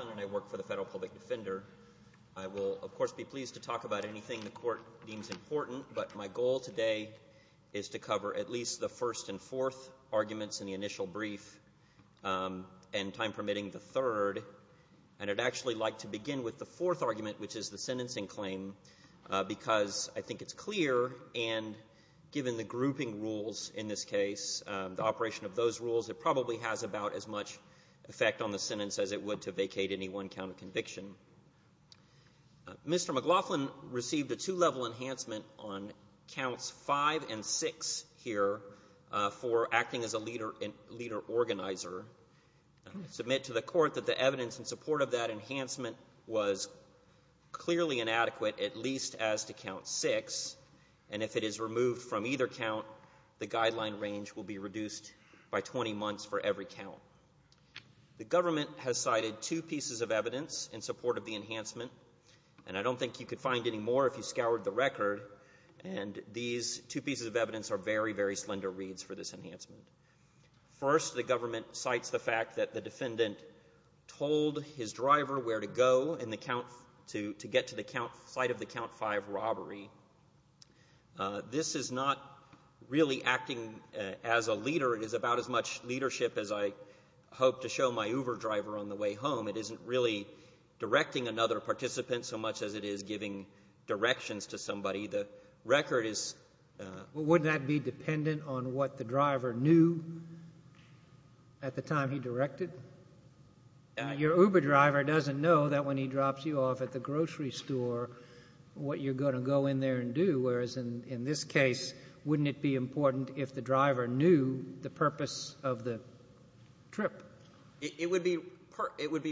and I work for the Federal Public Defender. I will, of course, be pleased to talk about anything the Court deems important, but my goal today is to cover at least the first and fourth arguments in the initial brief and, time permitting, the third. And I'd actually like to begin with the fourth argument, which is the sentencing claim, because I think it's clear, and given the grouping rules in this case, the effect on the sentence as it would to vacate any one count of conviction. Mr. McLaughlin received a two-level enhancement on counts 5 and 6 here for acting as a leader organizer. I submit to the Court that the evidence in support of that enhancement was clearly inadequate, at least as to count 6, and if it is removed from either count, the guideline range will be reduced by 20 months for every count. The government has cited two pieces of evidence in support of the enhancement, and I don't think you could find any more if you scoured the record, and these two pieces of evidence are very, very slender reads for this enhancement. First, the government cites the fact that the defendant told his driver where to go in the count to get to the site of the count 5 robbery. This is not really acting as a leader. It is about as much leadership as I hope to show my Uber driver on the way home. It isn't really directing another participant so much as it is giving directions to somebody. The record is... But wouldn't that be dependent on what the driver knew at the time he directed? Your Uber driver doesn't know that when he drops you off at the grocery store, what you're going to go in there and do, whereas in this case, wouldn't it be relative to the purpose of the trip? It would be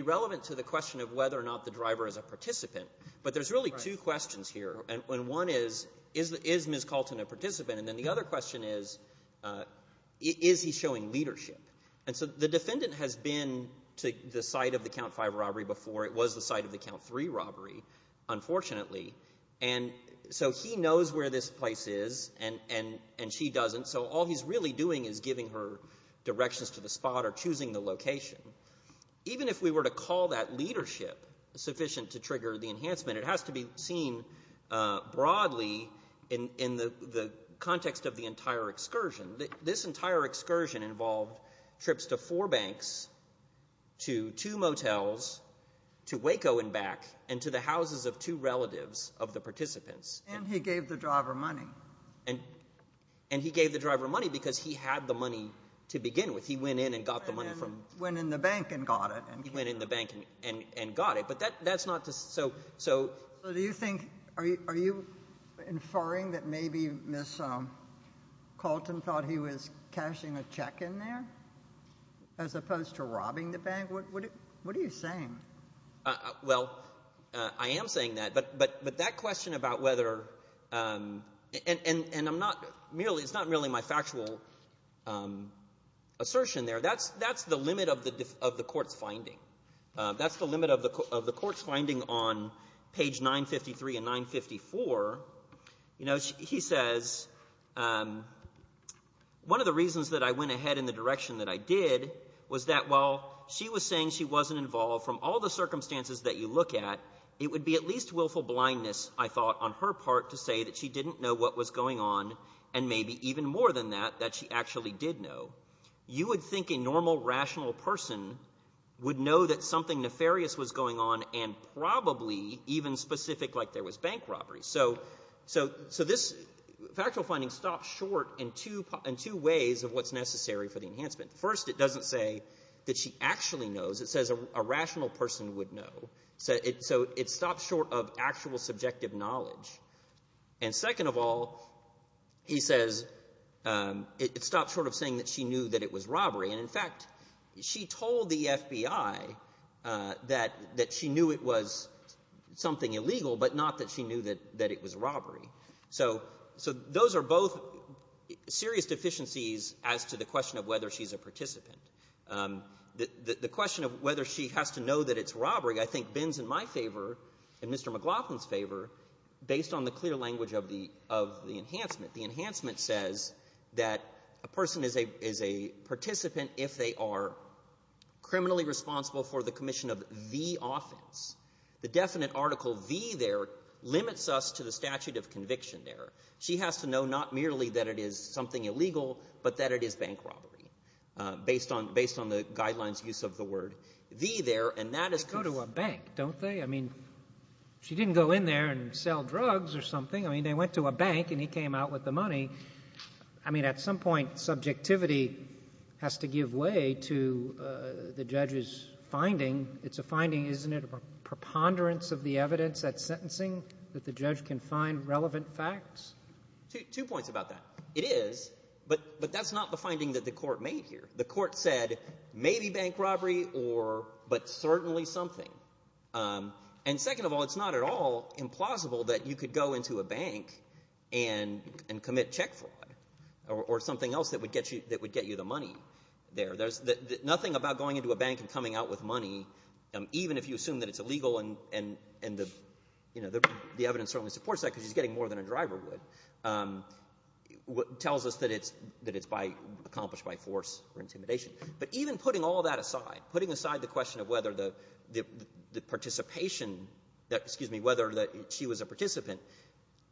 relevant to the question of whether or not the driver is a participant. But there's really two questions here, and one is, is Ms. Calton a participant? And then the other question is, is he showing leadership? And so the defendant has been to the site of the count 5 robbery before. It was the site of the count 3 robbery, unfortunately. And so he knows where this thing is giving her directions to the spot or choosing the location. Even if we were to call that leadership sufficient to trigger the enhancement, it has to be seen broadly in the context of the entire excursion. This entire excursion involved trips to four banks, to two motels, to Waco and back, and to the houses of two relatives of the participants. And he gave the driver money. And he gave the driver money because he had the money to begin with. He went in and got the money from the bank. Went in the bank and got it. Went in the bank and got it. So do you think, are you inferring that maybe Ms. Calton thought he was cashing a check in there as opposed to robbing the bank? What are you saying? Well, I am saying that. But that question about whether, and I'm not merely, it's not merely my factual assertion there. That's the limit of the Court's finding. That's the limit of the Court's finding on page 953 and 954. You know, he says, one of the reasons that I went ahead in the direction that I did was that while she was saying she wasn't involved from all the circumstances that you look at, it would be at least willful blindness, I thought, on her part to say that she didn't know what was going on, and maybe even more than that, that she actually did know. You would think a normal, rational person would know that something nefarious was going on and probably even specific like there was bank robbery. So this factual finding stops short in two ways of what's necessary for the enhancement. First, it doesn't say that she actually knows. It says a rational person would know. So it stops short of actual subjective knowledge. And second of all, he says it stops short of saying that she knew that it was robbery. And, in fact, she told the FBI that she knew it was something illegal but not that she knew that it was robbery. So those are both serious deficiencies as to the question of whether she's a participant. The question of whether she has to know that it's robbery, I think, bends in my favor and Mr. McLaughlin's favor based on the clear language of the enhancement. The enhancement says that a person is a participant if they are criminally responsible for the commission of the offense. The definite article V there limits us to the statute of conviction there. She has to know not merely that it is something illegal but that it is bank robbery based on the guidelines use of the word V there, and that is because They go to a bank, don't they? I mean, she didn't go in there and sell drugs or something. I mean, they went to a bank and he came out with the money. I mean, at some point subjectivity has to give way to the judge's finding. It's a finding, isn't it, of a preponderance of the evidence at sentencing that the judge can find relevant facts? Two points about that. It is, but that's not the finding that the Court made here. The Court said maybe bank robbery or but certainly something. And second of all, it's not at all implausible that you could go into a bank and commit check fraud or something else that would get you the money there. Nothing about going into a bank and coming out with money, even if you assume that it's illegal and the evidence certainly supports that because he's getting more than a driver would, tells us that it's accomplished by force or intimidation. But even putting all that aside, putting aside the question of whether the participation that, excuse me, whether she was a participant,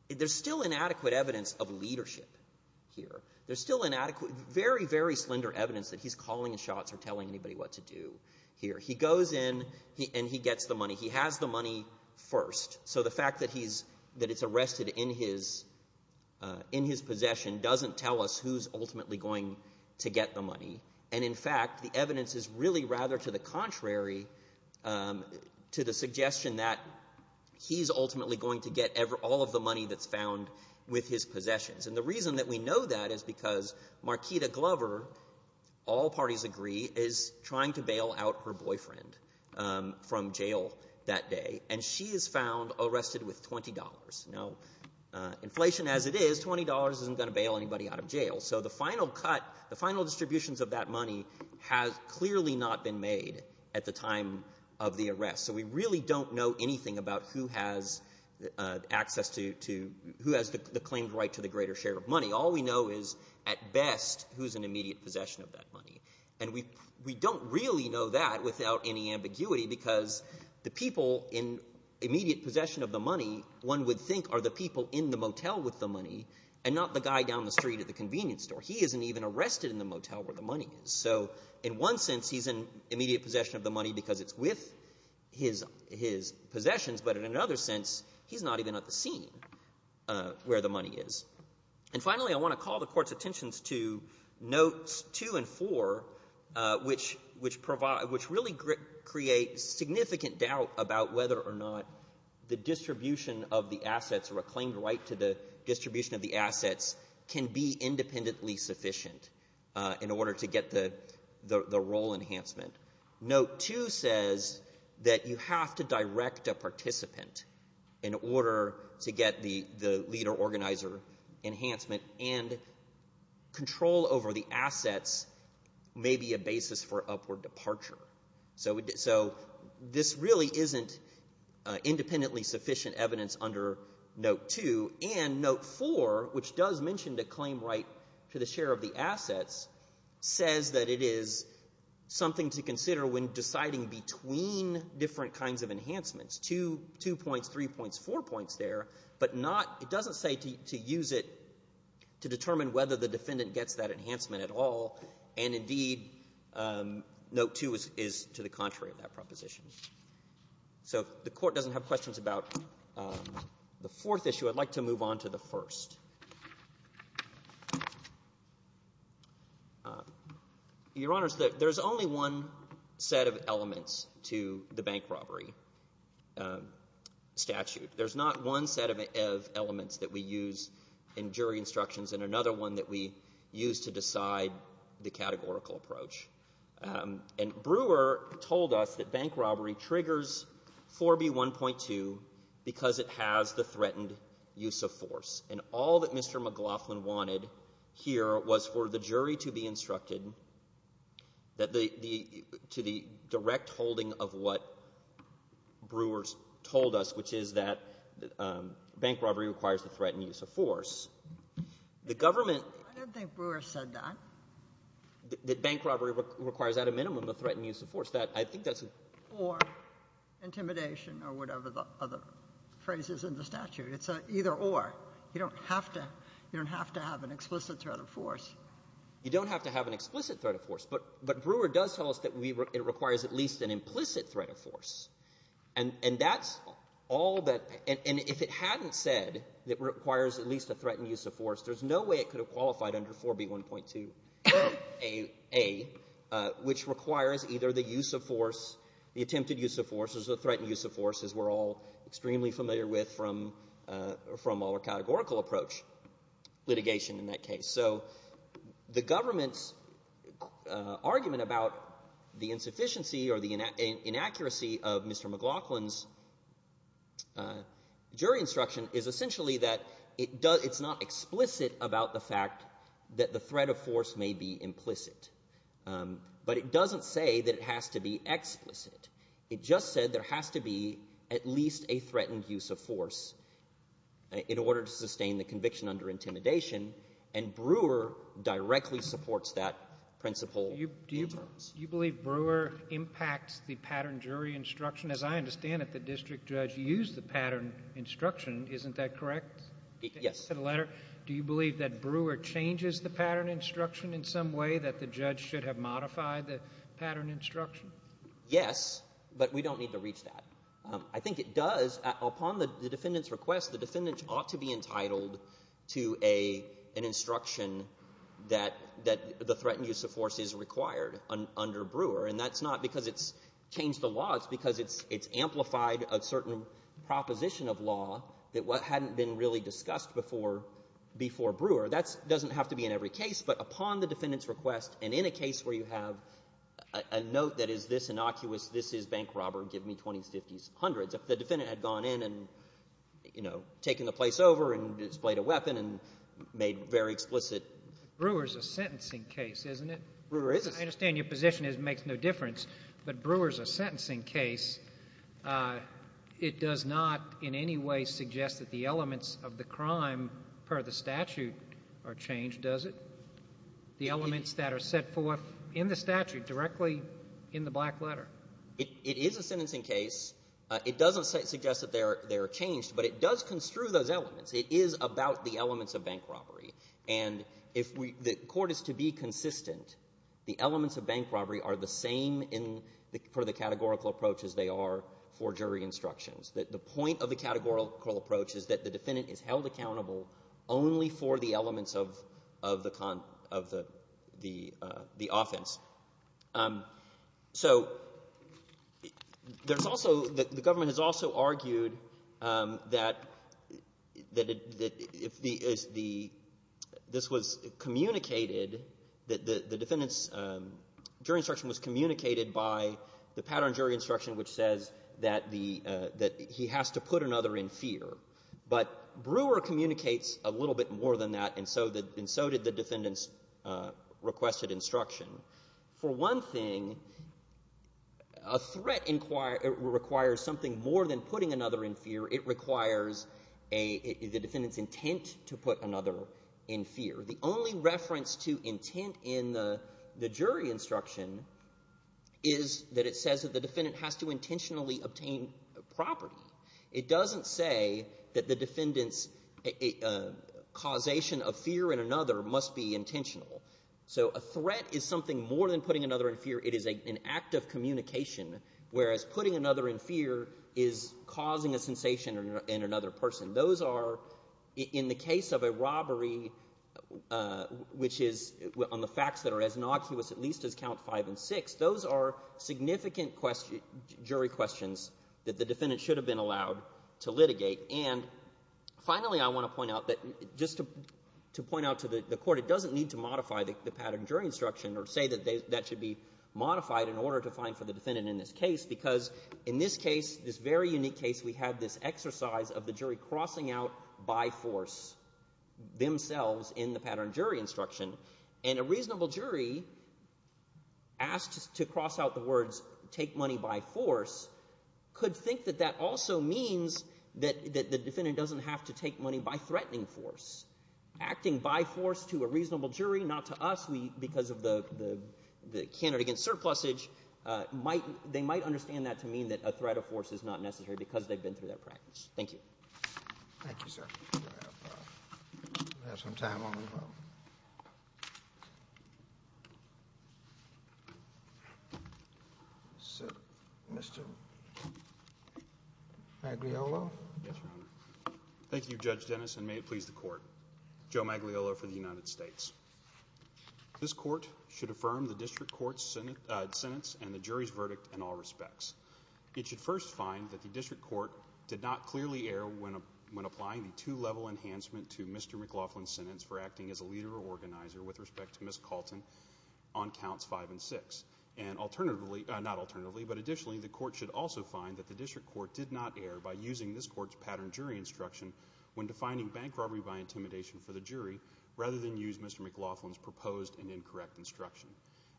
there's still inadequate evidence of leadership here. There's still inadequate, very, very slender evidence that he's calling shots or telling anybody what to do here. He goes in and he gets the money. He has the money first. So the fact that he's, that it's arrested in his, in his possession doesn't tell us who's ultimately going to get the money. And in fact, the evidence is really rather to the contrary to the suggestion that he's ultimately going to get all of the money that's found with his possessions. And the reason that we know that is because Marquita Glover, all parties agree, is trying to bail out her boyfriend from jail that day. And she is found arrested with $20. Now, inflation as it is, $20 isn't going to bail anybody out of jail. So the final cut, the final distributions of that money has clearly not been made at the time of the arrest. So we really don't know anything about who has access to, to, who has the claimed right to the greater share of money. All we know is at best who's in immediate possession of that money. And we don't really know that without any ambiguity because the people in immediate possession of the money, one would think are the people in the motel with the money and not the guy down the street at the convenience store. He isn't even arrested in the motel where the money is. So in one sense, he's in immediate possession of the money because it's with his possessions. But in another sense, he's not even at the scene where the money is. And finally, I want to call the Court's attentions to notes 2 and 4, which, which provide, which really create significant doubt about whether or not the distribution of the assets or a claimed right to the distribution of the assets can be independently sufficient in order to get the, the role enhancement. Note 2 says that you have to direct a participant in order to get the, the leader organizer enhancement. And control over the assets may be a basis for upward departure. So, so this really isn't independently sufficient evidence under note 2. And note 4, which does mention the claimed right to the share of the assets, says that it is something to consider when deciding between different kinds of enhancements. Two, two points, three points, four points there, but not, it doesn't say to use it to determine whether the defendant gets that enhancement at all. And indeed, note 2 is, is to the contrary of that proposition. So if the Court doesn't have questions about the fourth issue, I'd like to move on to the first. Your Honor, there's only one set of elements to the bank robbery statute. There's not one set of elements that we use in jury instructions and another one that we use to decide the categorical approach. And Brewer told us that bank robbery triggers 4B1.2 because it has the threatened use of force. And all that Mr. McLaughlin wanted here was for the jury to be instructed that the, to the direct holding of what Brewer's told us, which is that bank robbery requires the threatened use of force. The government — I don't think Brewer said that. That bank robbery requires at a minimum the threatened use of force. That, I think that's — Or intimidation or whatever the other phrase is in the statute. It's a either-or. You don't have to — you don't have to have an explicit threat of force. You don't have to have an explicit threat of force. But Brewer does tell us that it requires at least an implicit threat of force. And that's all that — and if it hadn't said it requires at least a threatened use of force, there's no way it could have qualified under 4B1.2a, which requires either the use of force, the attempted use of force, or the threatened use of force, as we're all extremely familiar with from our categorical approach litigation in that case. So the government's argument about the insufficiency or the inaccuracy of Mr. McLaughlin's jury instruction is essentially that it does — it's not explicit about the fact that the threat of force may be implicit. But it doesn't say that it has to be explicit. It just said there has to be at least a threatened use of force in order to sustain the conviction under intimidation. And Brewer directly supports that principle. Do you believe Brewer impacts the pattern jury instruction? As I understand it, the district judge used the pattern instruction. Isn't that correct? Yes. I just had a letter. Do you believe that Brewer changes the pattern instruction in some way, that the judge should have modified the pattern instruction? Yes, but we don't need to reach that. I think it does. Upon the defendant's request, the defendant ought to be entitled to an instruction that the threatened use of force is required under Brewer. And that's not because it's changed the law. It's because it's amplified a certain proposition of law that hadn't been really discussed before Brewer. That doesn't have to be in every case, but upon the defendant's request and in a case where you have a note that is this innocuous, this is bank robber, give me 20s, 50s, 100s, if the defendant had gone in and, you know, taken the place over and displayed a weapon and made very explicit ---- Brewer is a sentencing case, isn't it? Brewer is. I understand your position is it makes no difference. But Brewer is a sentencing case. It does not in any way suggest that the elements of the crime per the statute are changed, does it? The elements that are set forth in the statute directly in the black letter. It is a sentencing case. It doesn't suggest that they are changed, but it does construe those elements. It is about the elements of bank robbery. And if we ---- the Court is to be consistent, the elements of bank robbery are the same for the categorical approach as they are for jury instructions. The point of the categorical approach is that the defendant is held accountable only for the elements of the offense. So there's also ---- the government has also argued that if the ---- this was communicated, that the defendant's jury instruction was communicated by the pattern jury instruction which says that the ---- that he has to put another in fear. But Brewer communicates a little bit more than that, and so did the defendant's requested instruction. For one thing, a threat requires something more than putting another in fear. It requires a ---- the defendant's intent to put another in fear. The only reference to intent in the jury instruction is that it says that the defendant has to intentionally obtain property. It doesn't say that the defendant's causation of fear in another must be intentional. So a threat is something more than putting another in fear. It is an act of communication, whereas putting another in fear is causing a sensation in another person. Those are, in the case of a robbery, which is on the facts that are as innocuous at least as Count 5 and 6, those are significant jury questions that the defendant should have been allowed to litigate. And finally, I want to point out that just to point out to the Court, it doesn't need to modify the pattern jury instruction or say that that should be modified in order to find for the defendant in this case, because in this case, this very unique case, we had this exercise of the jury crossing out by force themselves in the pattern jury instruction. And a reasonable jury asked to cross out the words take money by force could think that that also means that the defendant doesn't have to take money by threatening force. Acting by force to a reasonable jury, not to us because of the candidate against us because they've been through that practice. Thank you. Thank you, sir. We have some time on the vote. Mr. Magliolo? Yes, Your Honor. Thank you, Judge Dennis, and may it please the Court. Joe Magliolo for the United States. This Court should affirm the district court's sentence and the jury's verdict in all respects. It should first find that the district court did not clearly err when applying the two-level enhancement to Mr. McLaughlin's sentence for acting as a leader or organizer with respect to Ms. Calton on counts five and six. And alternatively, not alternatively, but additionally, the Court should also find that the district court did not err by using this Court's pattern jury instruction when defining bank robbery by intimidation for the jury rather than use Mr. McLaughlin's proposed and incorrect instruction.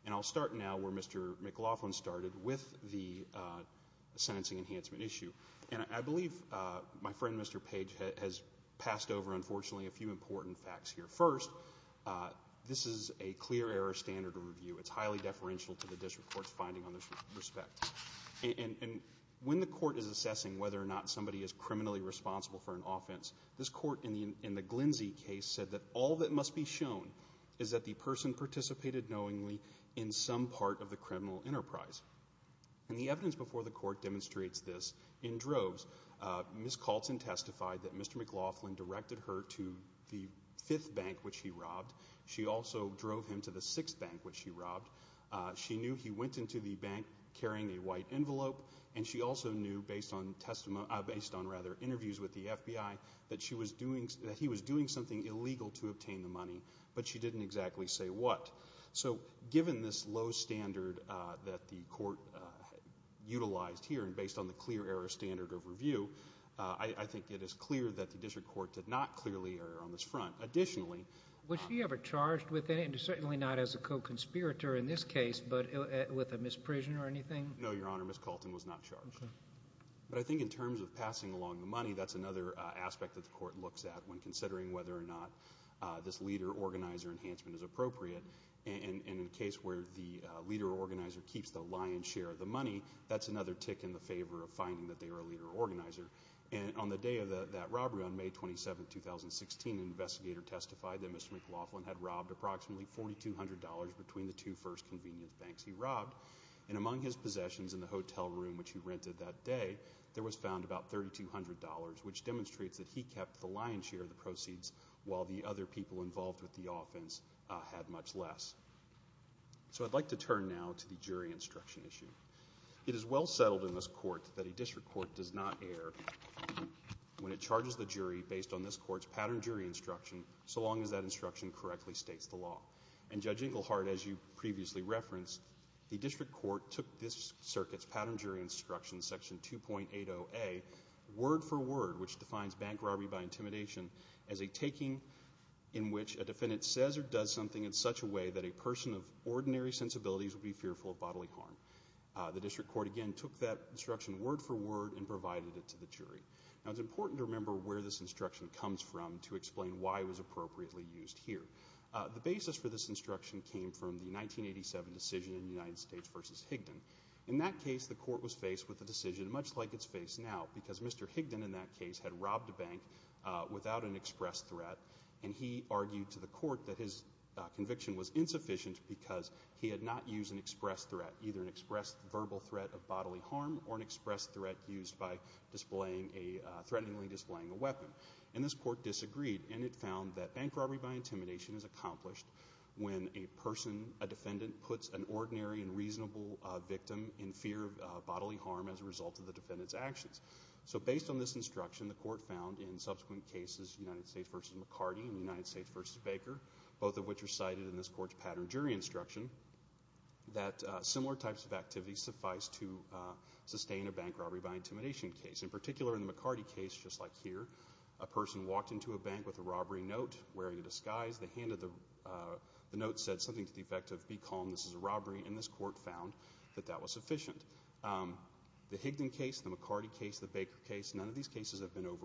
And I'll start now where Mr. McLaughlin started with the sentencing enhancement issue. And I believe my friend, Mr. Page, has passed over, unfortunately, a few important facts here. First, this is a clear error standard review. It's highly deferential to the district court's finding on this respect. And when the Court is assessing whether or not somebody is criminally responsible for an offense, this Court in the Glenzie case said that all that must be shown is that the person participated knowingly in some part of the criminal enterprise. And the evidence before the Court demonstrates this in droves. Ms. Calton testified that Mr. McLaughlin directed her to the fifth bank, which he robbed. She also drove him to the sixth bank, which she robbed. She knew he went into the bank carrying a white envelope. And she also knew, based on interviews with the FBI, that he was doing something illegal to obtain the money. But she didn't exactly say what. So given this low standard that the Court utilized here, and based on the clear error standard of review, I think it is clear that the district court did not clearly err on this front. Additionally, Was she ever charged with any, and certainly not as a co-conspirator in this case, but with a misprision or anything? No, Your Honor. Ms. Calton was not charged. Okay. But I think in terms of passing along the money, that's another aspect that the leader-organizer enhancement is appropriate. And in a case where the leader-organizer keeps the lion's share of the money, that's another tick in the favor of finding that they were a leader-organizer. And on the day of that robbery, on May 27, 2016, an investigator testified that Mr. McLaughlin had robbed approximately $4,200 between the two first convenience banks he robbed. And among his possessions in the hotel room, which he rented that day, there was found about $3,200, which demonstrates that he kept the lion's share of the money, but the offense had much less. So I'd like to turn now to the jury instruction issue. It is well settled in this court that a district court does not err when it charges the jury based on this court's pattern jury instruction, so long as that instruction correctly states the law. And Judge Englehardt, as you previously referenced, the district court took this circuit's pattern jury instruction, Section 2.80a, word for word, which defines when it says or does something in such a way that a person of ordinary sensibilities would be fearful of bodily harm. The district court, again, took that instruction word for word and provided it to the jury. Now, it's important to remember where this instruction comes from to explain why it was appropriately used here. The basis for this instruction came from the 1987 decision in the United States versus Higdon. In that case, the court was faced with a decision much like it's faced now, because Mr. Higdon, in that case, had robbed a bank without an express threat, and he argued to the court that his conviction was insufficient because he had not used an express threat, either an express verbal threat of bodily harm or an express threat used by threateningly displaying a weapon. And this court disagreed, and it found that bank robbery by intimidation is accomplished when a person, a defendant, puts an ordinary and reasonable victim in fear of bodily harm as a result of the defendant's actions. So based on this instruction, the court found in subsequent cases, United States versus McCarty and United States versus Baker, both of which are cited in this court's pattern jury instruction, that similar types of activities suffice to sustain a bank robbery by intimidation case. In particular, in the McCarty case, just like here, a person walked into a bank with a robbery note, wearing a disguise. The note said something to the effect of, Be calm, this is a robbery, and this court found that that was sufficient. The Higdon case, the McCarty case, the Baker case, none of these cases have been brought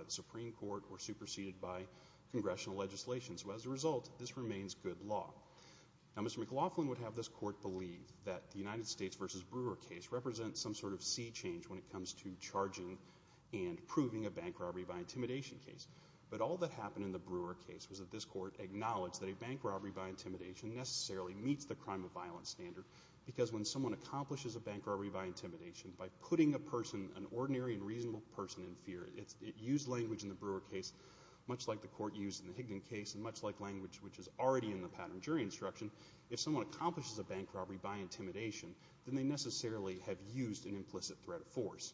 to the Supreme Court or superseded by congressional legislation. So as a result, this remains good law. Now, Mr. McLaughlin would have this court believe that the United States versus Brewer case represents some sort of sea change when it comes to charging and proving a bank robbery by intimidation case. But all that happened in the Brewer case was that this court acknowledged that a bank robbery by intimidation necessarily meets the crime of violence standard because when someone accomplishes a bank robbery by intimidation by putting a person, an ordinary and reasonable person, in fear, it used language in the Brewer case much like the court used in the Higdon case and much like language which is already in the pattern jury instruction. If someone accomplishes a bank robbery by intimidation, then they necessarily have used an implicit threat of force.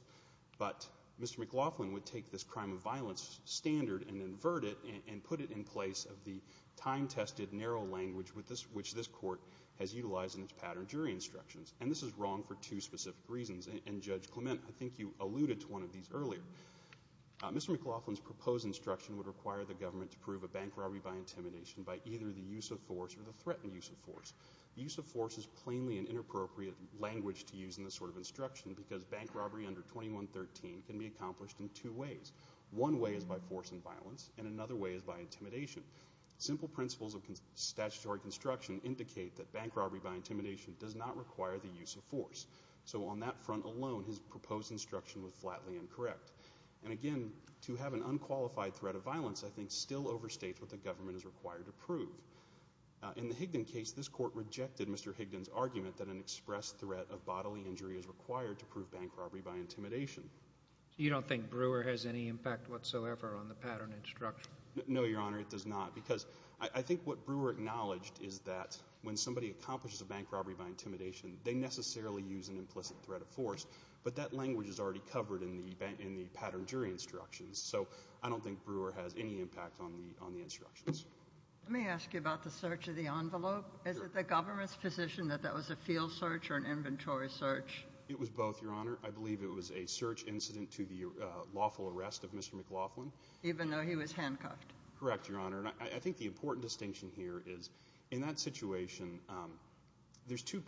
But Mr. McLaughlin would take this crime of violence standard and invert it and put it in place of the time-tested narrow language which this court has utilized in its pattern jury instructions. And this is wrong for two specific reasons. And Judge Clement, I think you alluded to one of these earlier. Mr. McLaughlin's proposed instruction would require the government to prove a bank robbery by intimidation by either the use of force or the threatened use of force. The use of force is plainly an inappropriate language to use in this sort of instruction because bank robbery under 2113 can be accomplished in two ways. One way is by force and violence, and another way is by intimidation. Simple principles of statutory construction indicate that bank robbery by intimidation does not require the use of force. So on that front alone, his proposed instruction was flatly incorrect. And again, to have an unqualified threat of violence I think still overstates what the government is required to prove. In the Higdon case, this court rejected Mr. Higdon's argument that an express threat of bodily injury is required to prove bank robbery by intimidation. You don't think Brewer has any impact whatsoever on the pattern instruction? No, Your Honor, it does not. Because I think what Brewer acknowledged is that when somebody accomplishes a threat of force, but that language is already covered in the pattern jury instructions. So I don't think Brewer has any impact on the instructions. Let me ask you about the search of the envelope. Is it the government's position that that was a field search or an inventory search? It was both, Your Honor. I believe it was a search incident to the lawful arrest of Mr. McLaughlin. Even though he was handcuffed? Correct, Your Honor. And I think the important distinction here is in that situation there's two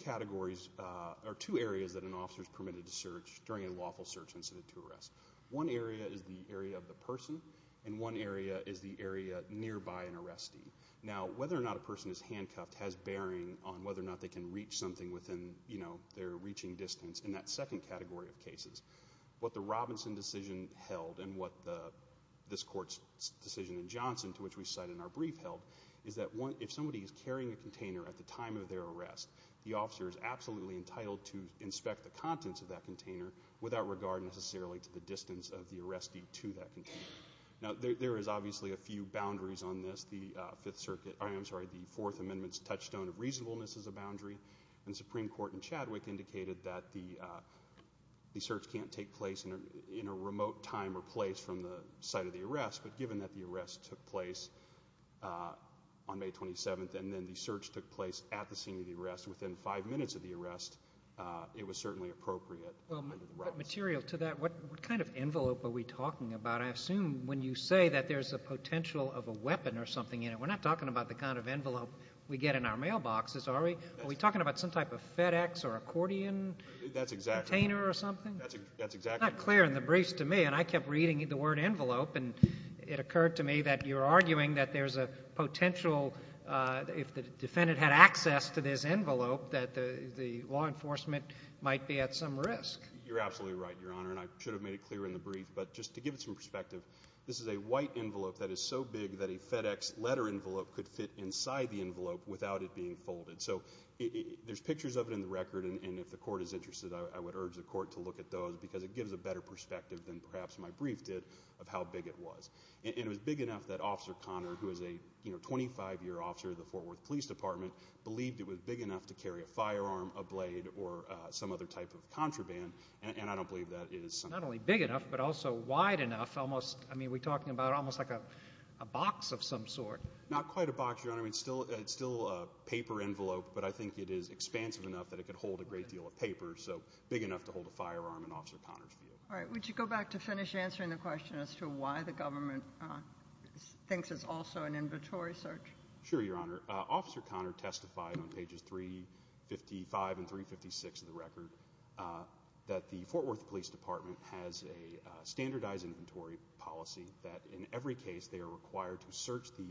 areas that an officer is permitted to search during a lawful search incident to arrest. One area is the area of the person and one area is the area nearby an arrestee. Now, whether or not a person is handcuffed has bearing on whether or not they can reach something within their reaching distance in that second category of cases. What the Robinson decision held and what this court's decision in Johnson, to which we cite in our brief, held is that if somebody is carrying a container at the time of their arrest, the officer is absolutely entitled to inspect the contents of that container without regard necessarily to the distance of the arrestee to that container. Now, there is obviously a few boundaries on this. The Fourth Amendment's touchstone of reasonableness is a boundary, and the Supreme Court in Chadwick indicated that the search can't take place in a remote time or place from the site of the arrest, but given that the arrest took place on the scene of the arrest, within five minutes of the arrest, it was certainly appropriate under the rights. Well, material to that, what kind of envelope are we talking about? I assume when you say that there's a potential of a weapon or something in it, we're not talking about the kind of envelope we get in our mailboxes, are we? Are we talking about some type of FedEx or accordion container or something? That's exactly right. That's exactly right. It's not clear in the briefs to me, and I kept reading the word envelope, and it occurred to me that you're arguing that there's a potential, if the defendant had access to this envelope, that the law enforcement might be at some risk. You're absolutely right, Your Honor, and I should have made it clear in the brief, but just to give it some perspective, this is a white envelope that is so big that a FedEx letter envelope could fit inside the envelope without it being folded. So there's pictures of it in the record, and if the court is interested, I would urge the court to look at those because it gives a better perspective than perhaps my brief did of how big it was. And it was big enough that Officer Conner, who is a 25-year officer of the Fort Worth Police Department, believed it was big enough to carry a firearm, a blade, or some other type of contraband, and I don't believe that is something that's true. Not only big enough, but also wide enough, almost. I mean, are we talking about almost like a box of some sort? Not quite a box, Your Honor. It's still a paper envelope, but I think it is expansive enough that it could hold a great deal of paper, so big enough to hold a firearm in Officer Conner's view. All right. Would you go back to finish answering the question as to why the government thinks it's also an inventory search? Sure, Your Honor. Officer Conner testified on pages 355 and 356 of the record that the Fort Worth Police Department has a standardized inventory policy, that in every case they are required to search the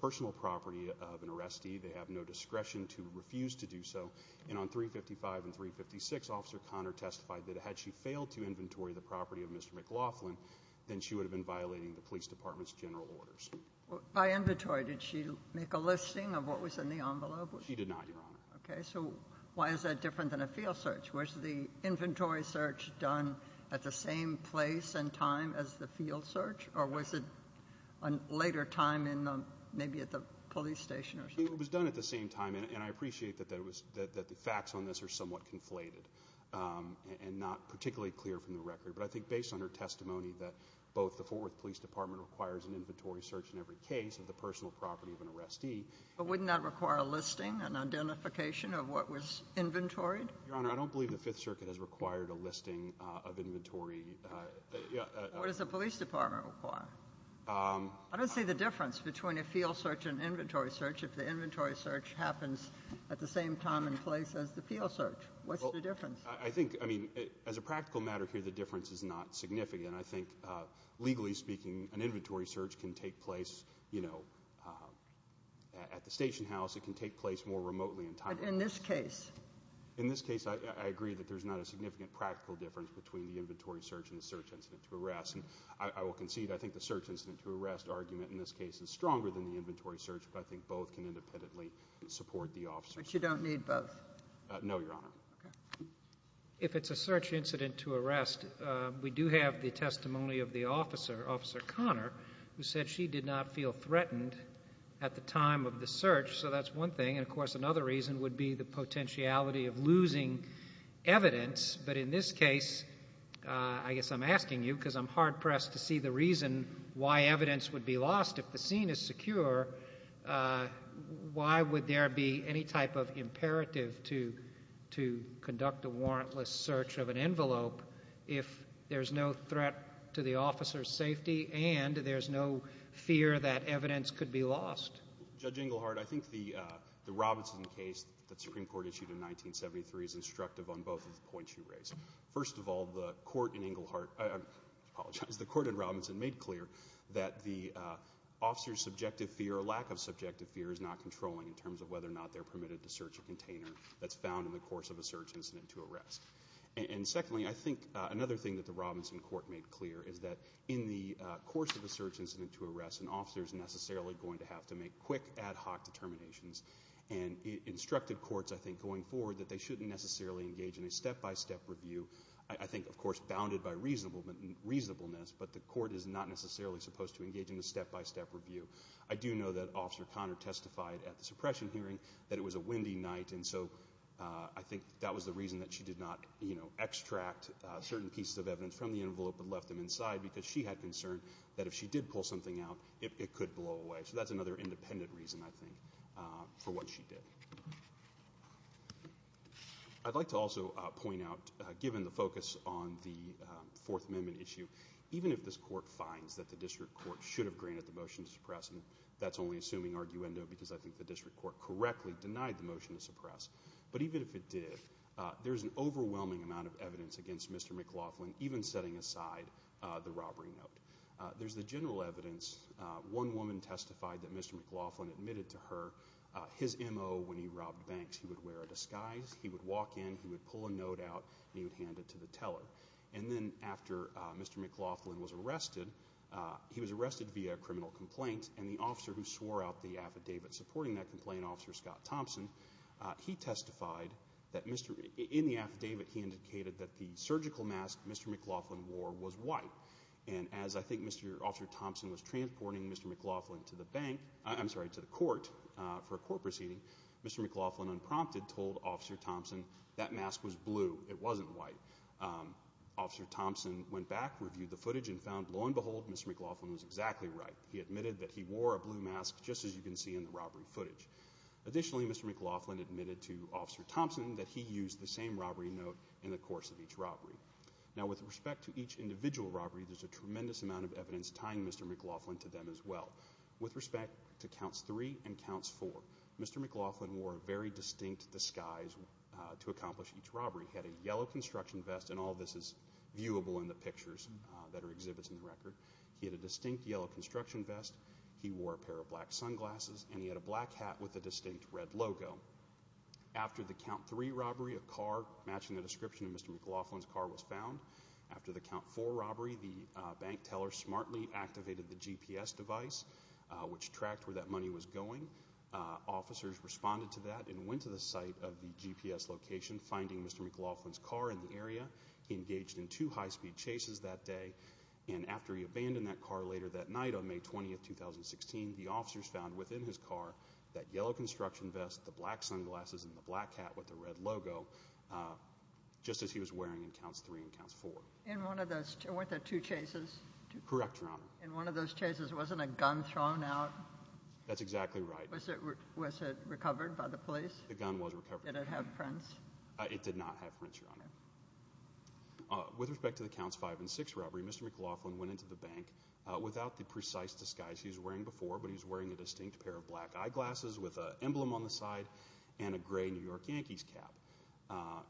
personal property of an arrestee. They have no discretion to refuse to do so. And on 355 and 356, Officer Conner testified that had she failed to inventory the property of Mr. McLaughlin, then she would have been violating the police department's general orders. By inventory, did she make a listing of what was in the envelope? She did not, Your Honor. Okay. So why is that different than a field search? Was the inventory search done at the same place and time as the field search, or was it a later time, maybe at the police station or something? It was done at the same time, and I appreciate that the facts on this are somewhat conflated and not particularly clear from the record. But I think based on her testimony that both the Fort Worth Police Department requires an inventory search in every case of the personal property of an arrestee. But wouldn't that require a listing, an identification of what was inventoried? Your Honor, I don't believe the Fifth Circuit has required a listing of inventory What does the police department require? I don't see the difference between a field search and inventory search if the inventory search happens at the same time and place as the field search. What's the difference? I think, I mean, as a practical matter here, the difference is not significant. I think, legally speaking, an inventory search can take place, you know, at the station house. It can take place more remotely and timely. But in this case? In this case, I agree that there's not a significant practical difference between the inventory search and the search incident to arrest. And I will concede, I think the search incident to arrest argument in this case is stronger than the inventory search, but I think both can independently support the officers. But you don't need both? No, Your Honor. Okay. If it's a search incident to arrest, we do have the testimony of the officer, Officer Connor, who said she did not feel threatened at the time of the search. So that's one thing. And, of course, another reason would be the potentiality of losing evidence. But in this case, I guess I'm asking you because I'm hard-pressed to see the reason why evidence would be lost. If the scene is secure, why would there be any type of imperative to conduct a warrantless search of an envelope if there's no threat to the officer's safety and there's no fear that evidence could be lost? Judge Englehart, I think the Robinson case that the Supreme Court issued in 1973 is instructive on both of the points you raised. First of all, the court in Robinson made clear that the officer's subjective fear or lack of subjective fear is not controlling in terms of whether or not they're permitted to search a container that's found in the course of a search incident to arrest. And secondly, I think another thing that the Robinson court made clear is that in the course of a search incident to arrest, an officer is necessarily going to have to make quick ad hoc determinations and instructed courts, I think, going forward that they shouldn't necessarily engage in a step-by-step review. I think, of course, bounded by reasonableness, but the court is not necessarily supposed to engage in a step-by-step review. I do know that Officer Conner testified at the suppression hearing that it was a windy night, and so I think that was the reason that she did not extract certain pieces of evidence from the envelope and left them inside because she had concern that if she did pull something out, it could blow away. So that's another independent reason, I think, for what she did. I'd like to also point out, given the focus on the Fourth Amendment issue, even if this court finds that the district court should have granted the motion to suppress, and that's only assuming arguendo because I think the district court correctly denied the motion to suppress, but even if it did, there's an overwhelming amount of evidence against Mr. McLaughlin, even setting aside the robbery note. There's the general evidence. One woman testified that Mr. McLaughlin admitted to her his M.O. when he robbed banks. He would wear a disguise. He would walk in. He would pull a note out, and he would hand it to the teller. And then after Mr. McLaughlin was arrested, he was arrested via a criminal complaint, and the officer who swore out the affidavit supporting that complaint, Officer Scott Thompson, he testified that in the affidavit he indicated that the surgical mask Mr. McLaughlin wore was white. And as I think Mr. Officer Thompson was transporting Mr. McLaughlin to the bank, I'm sorry, to the court, for a court proceeding, Mr. McLaughlin unprompted told Officer Thompson that mask was blue. It wasn't white. Officer Thompson went back, reviewed the footage, and found, lo and behold, Mr. McLaughlin was exactly right. He admitted that he wore a blue mask, just as you can see in the robbery footage. Additionally, Mr. McLaughlin admitted to Officer Thompson that he used the same robbery note in the course of each robbery. Now, with respect to each individual robbery, there's a tremendous amount of evidence tying Mr. McLaughlin to them as well. With respect to Counts 3 and Counts 4, Mr. McLaughlin wore a very distinct disguise to accomplish each robbery. He had a yellow construction vest, and all this is viewable in the pictures that are exhibits in the record. He had a distinct yellow construction vest. He wore a pair of black sunglasses, and he had a black hat with a distinct red logo. After the Count 3 robbery, a car matching the description of Mr. McLaughlin's car was found. After the Count 4 robbery, the bank teller smartly activated the GPS device, which tracked where that money was going. Officers responded to that and went to the site of the GPS location, finding Mr. McLaughlin's car in the area. He engaged in two high-speed chases that day, and after he abandoned that car later that night on May 20, 2016, the officers found within his car that yellow construction vest, the black sunglasses, and the black hat with the red logo, just as he was wearing in Counts 3 and Counts 4. And weren't there two chases? Correct, Your Honor. And one of those chases, wasn't a gun thrown out? That's exactly right. Was it recovered by the police? The gun was recovered. Did it have prints? It did not have prints, Your Honor. With respect to the Counts 5 and 6 robbery, Mr. McLaughlin went into the bank without the precise disguise he was wearing before, but he was wearing a distinct pair of black eyeglasses with an emblem on the side and a gray New York Yankees cap.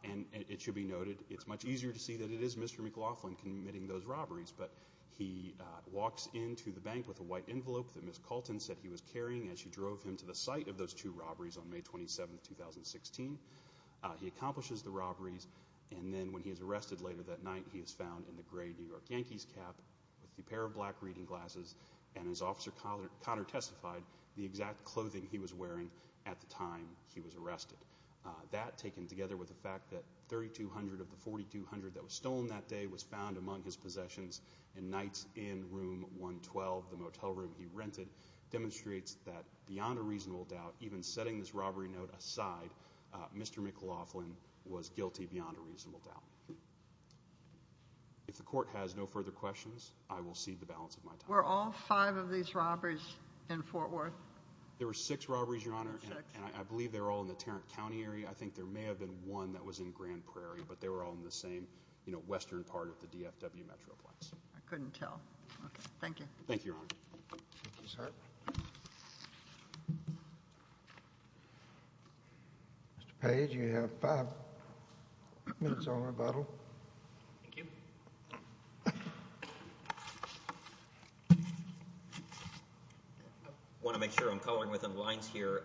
And it should be noted, it's much easier to see that it is Mr. McLaughlin committing those robberies, but he walks into the bank with a white envelope that Ms. Colton said he was carrying as she drove him to the site of those two robberies on May 27, 2016. He accomplishes the robberies, and then when he is arrested later that night, he is found in the gray New York Yankees cap with a pair of black reading glasses. And as Officer Connor testified, the exact clothing he was wearing at the time he was arrested. That, taken together with the fact that $3,200 of the $4,200 that was stolen that day was found among his possessions in nights in room 112, the motel room he rented, demonstrates that beyond a reasonable doubt, even setting this robbery note aside, Mr. McLaughlin was guilty beyond a reasonable doubt. If the Court has no further questions, I will cede the balance of my time. Were all five of these robberies in Fort Worth? There were six robberies, Your Honor, and I believe they were all in the Tarrant County area. I think there may have been one that was in Grand Prairie, but they were all in the same western part of the DFW metroplex. I couldn't tell. Thank you. Thank you, Your Honor. Thank you, sir. Mr. Page, you have five minutes on rebuttal. Thank you. I want to make sure I'm coloring within the lines here.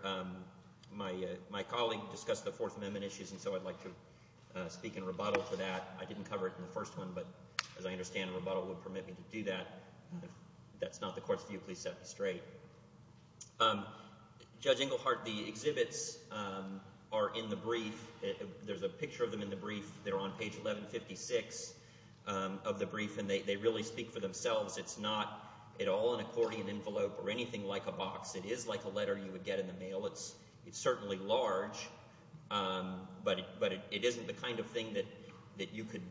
My colleague discussed the Fourth Amendment issues, and so I'd like to speak in rebuttal for that. I didn't cover it in the first one, but as I understand, a rebuttal would permit me to do that. If that's not the Court's view, please set it straight. Judge Englehart, the exhibits are in the brief. There's a picture of them in the brief. They're on page 1156 of the brief, and they really speak for themselves. It's not at all an accordion envelope or anything like a box. It is like a letter you would get in the mail. It's certainly large, but it isn't the kind of thing that you could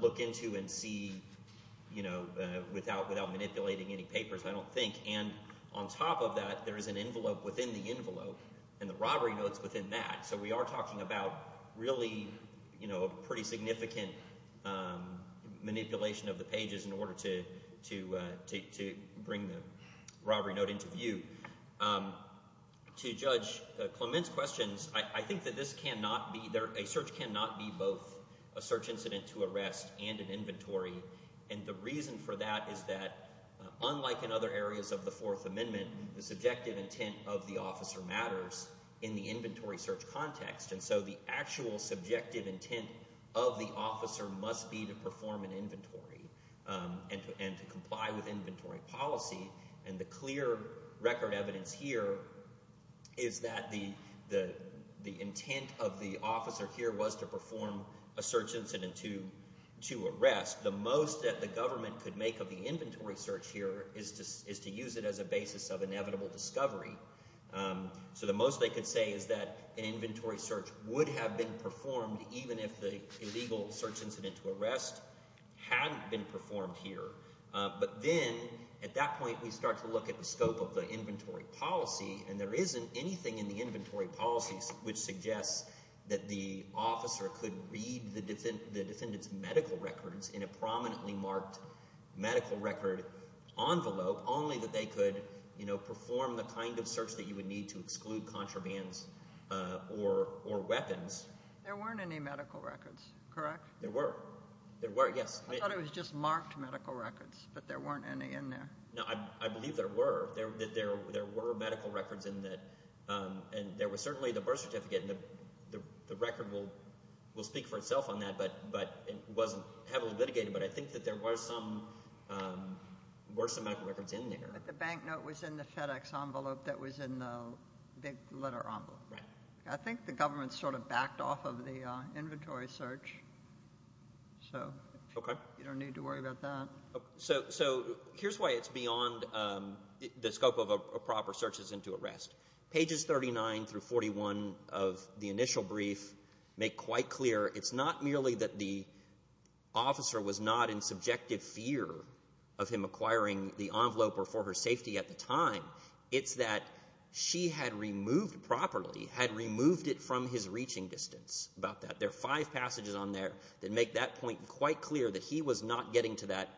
look into and see without manipulating any papers, I don't think. On top of that, there is an envelope within the envelope, and the robbery note's within that. So we are talking about really a pretty significant manipulation of the pages in order to bring the robbery note into view. To Judge Clement's questions, I think that a search cannot be both a search incident to arrest and an inventory. The reason for that is that, unlike in other areas of the Fourth Amendment, the subjective And so the actual subjective intent of the officer must be to perform an inventory and to comply with inventory policy. And the clear record evidence here is that the intent of the officer here was to perform a search incident to arrest. The most that the government could make of the inventory search here is to use it as a basis of inevitable discovery. So the most they could say is that an inventory search would have been performed even if the illegal search incident to arrest hadn't been performed here. But then, at that point, we start to look at the scope of the inventory policy, and there isn't anything in the inventory policy which suggests that the officer could read the defendant's medical records in a prominently marked medical record envelope, only that they could perform the kind of search that you would need to exclude contrabands or weapons. There weren't any medical records, correct? There were. There were, yes. I thought it was just marked medical records, but there weren't any in there. No, I believe there were. There were medical records in that, and there was certainly the birth certificate, and the record will speak for itself on that, but it wasn't heavily litigated. But I think that there were some medical records in there. But the bank note was in the FedEx envelope that was in the letter envelope. Right. I think the government sort of backed off of the inventory search, so you don't need to worry about that. So here's why it's beyond the scope of a proper search that's into arrest. Pages 39 through 41 of the initial brief make quite clear it's not merely that the officer was not in subjective fear of him acquiring the envelope or for her safety at the time. It's that she had removed properly, had removed it from his reaching distance about that. There are five passages on there that make that point quite clear, that he was not getting to that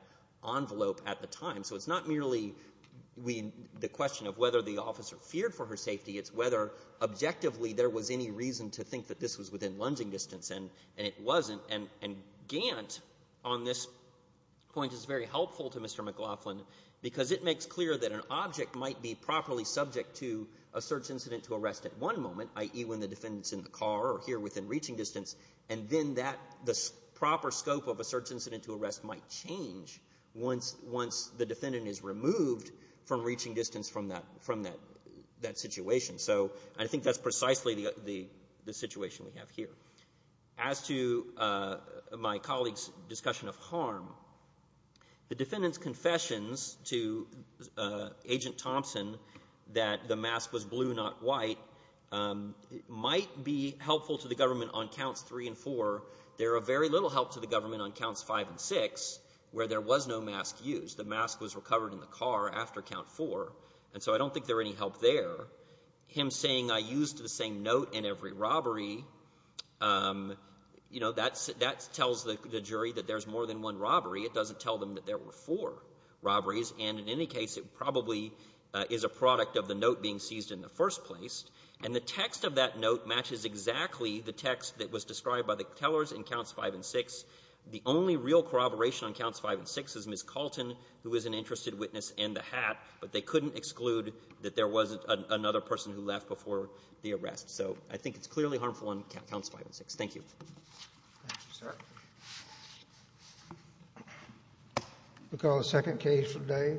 envelope at the time. So it's not merely the question of whether the officer feared for her safety, it's whether objectively there was any reason to think that this was within lunging distance, and it wasn't. And Gant on this point is very helpful to Mr. McLaughlin because it makes clear that an object might be properly subject to a search incident to arrest at one moment, i.e. when the defendant's in the car or here within reaching distance, and then the proper scope of a search incident to arrest might change once the defendant is removed from reaching distance from that situation. So I think that's precisely the situation we have here. As to my colleague's discussion of harm, the defendant's confessions to Agent Thompson that the mask was blue, not white, might be helpful to the government on counts 3 and 4. There are very little help to the government on counts 5 and 6 where there was no mask used. The mask was recovered in the car after count 4, and so I don't think there's any help there. Him saying I used the same note in every robbery, you know, that tells the jury that there's more than one robbery. It doesn't tell them that there were four robberies. And in any case, it probably is a product of the note being seized in the first place. And the text of that note matches exactly the text that was described by the tellers in counts 5 and 6. The only real corroboration on counts 5 and 6 is Ms. Colton, who is an interested witness in the hat, but they couldn't exclude that there was another person who left before the arrest. So I think it's clearly harmful on counts 5 and 6. Thank you. Thank you, sir. We'll call the second case for today.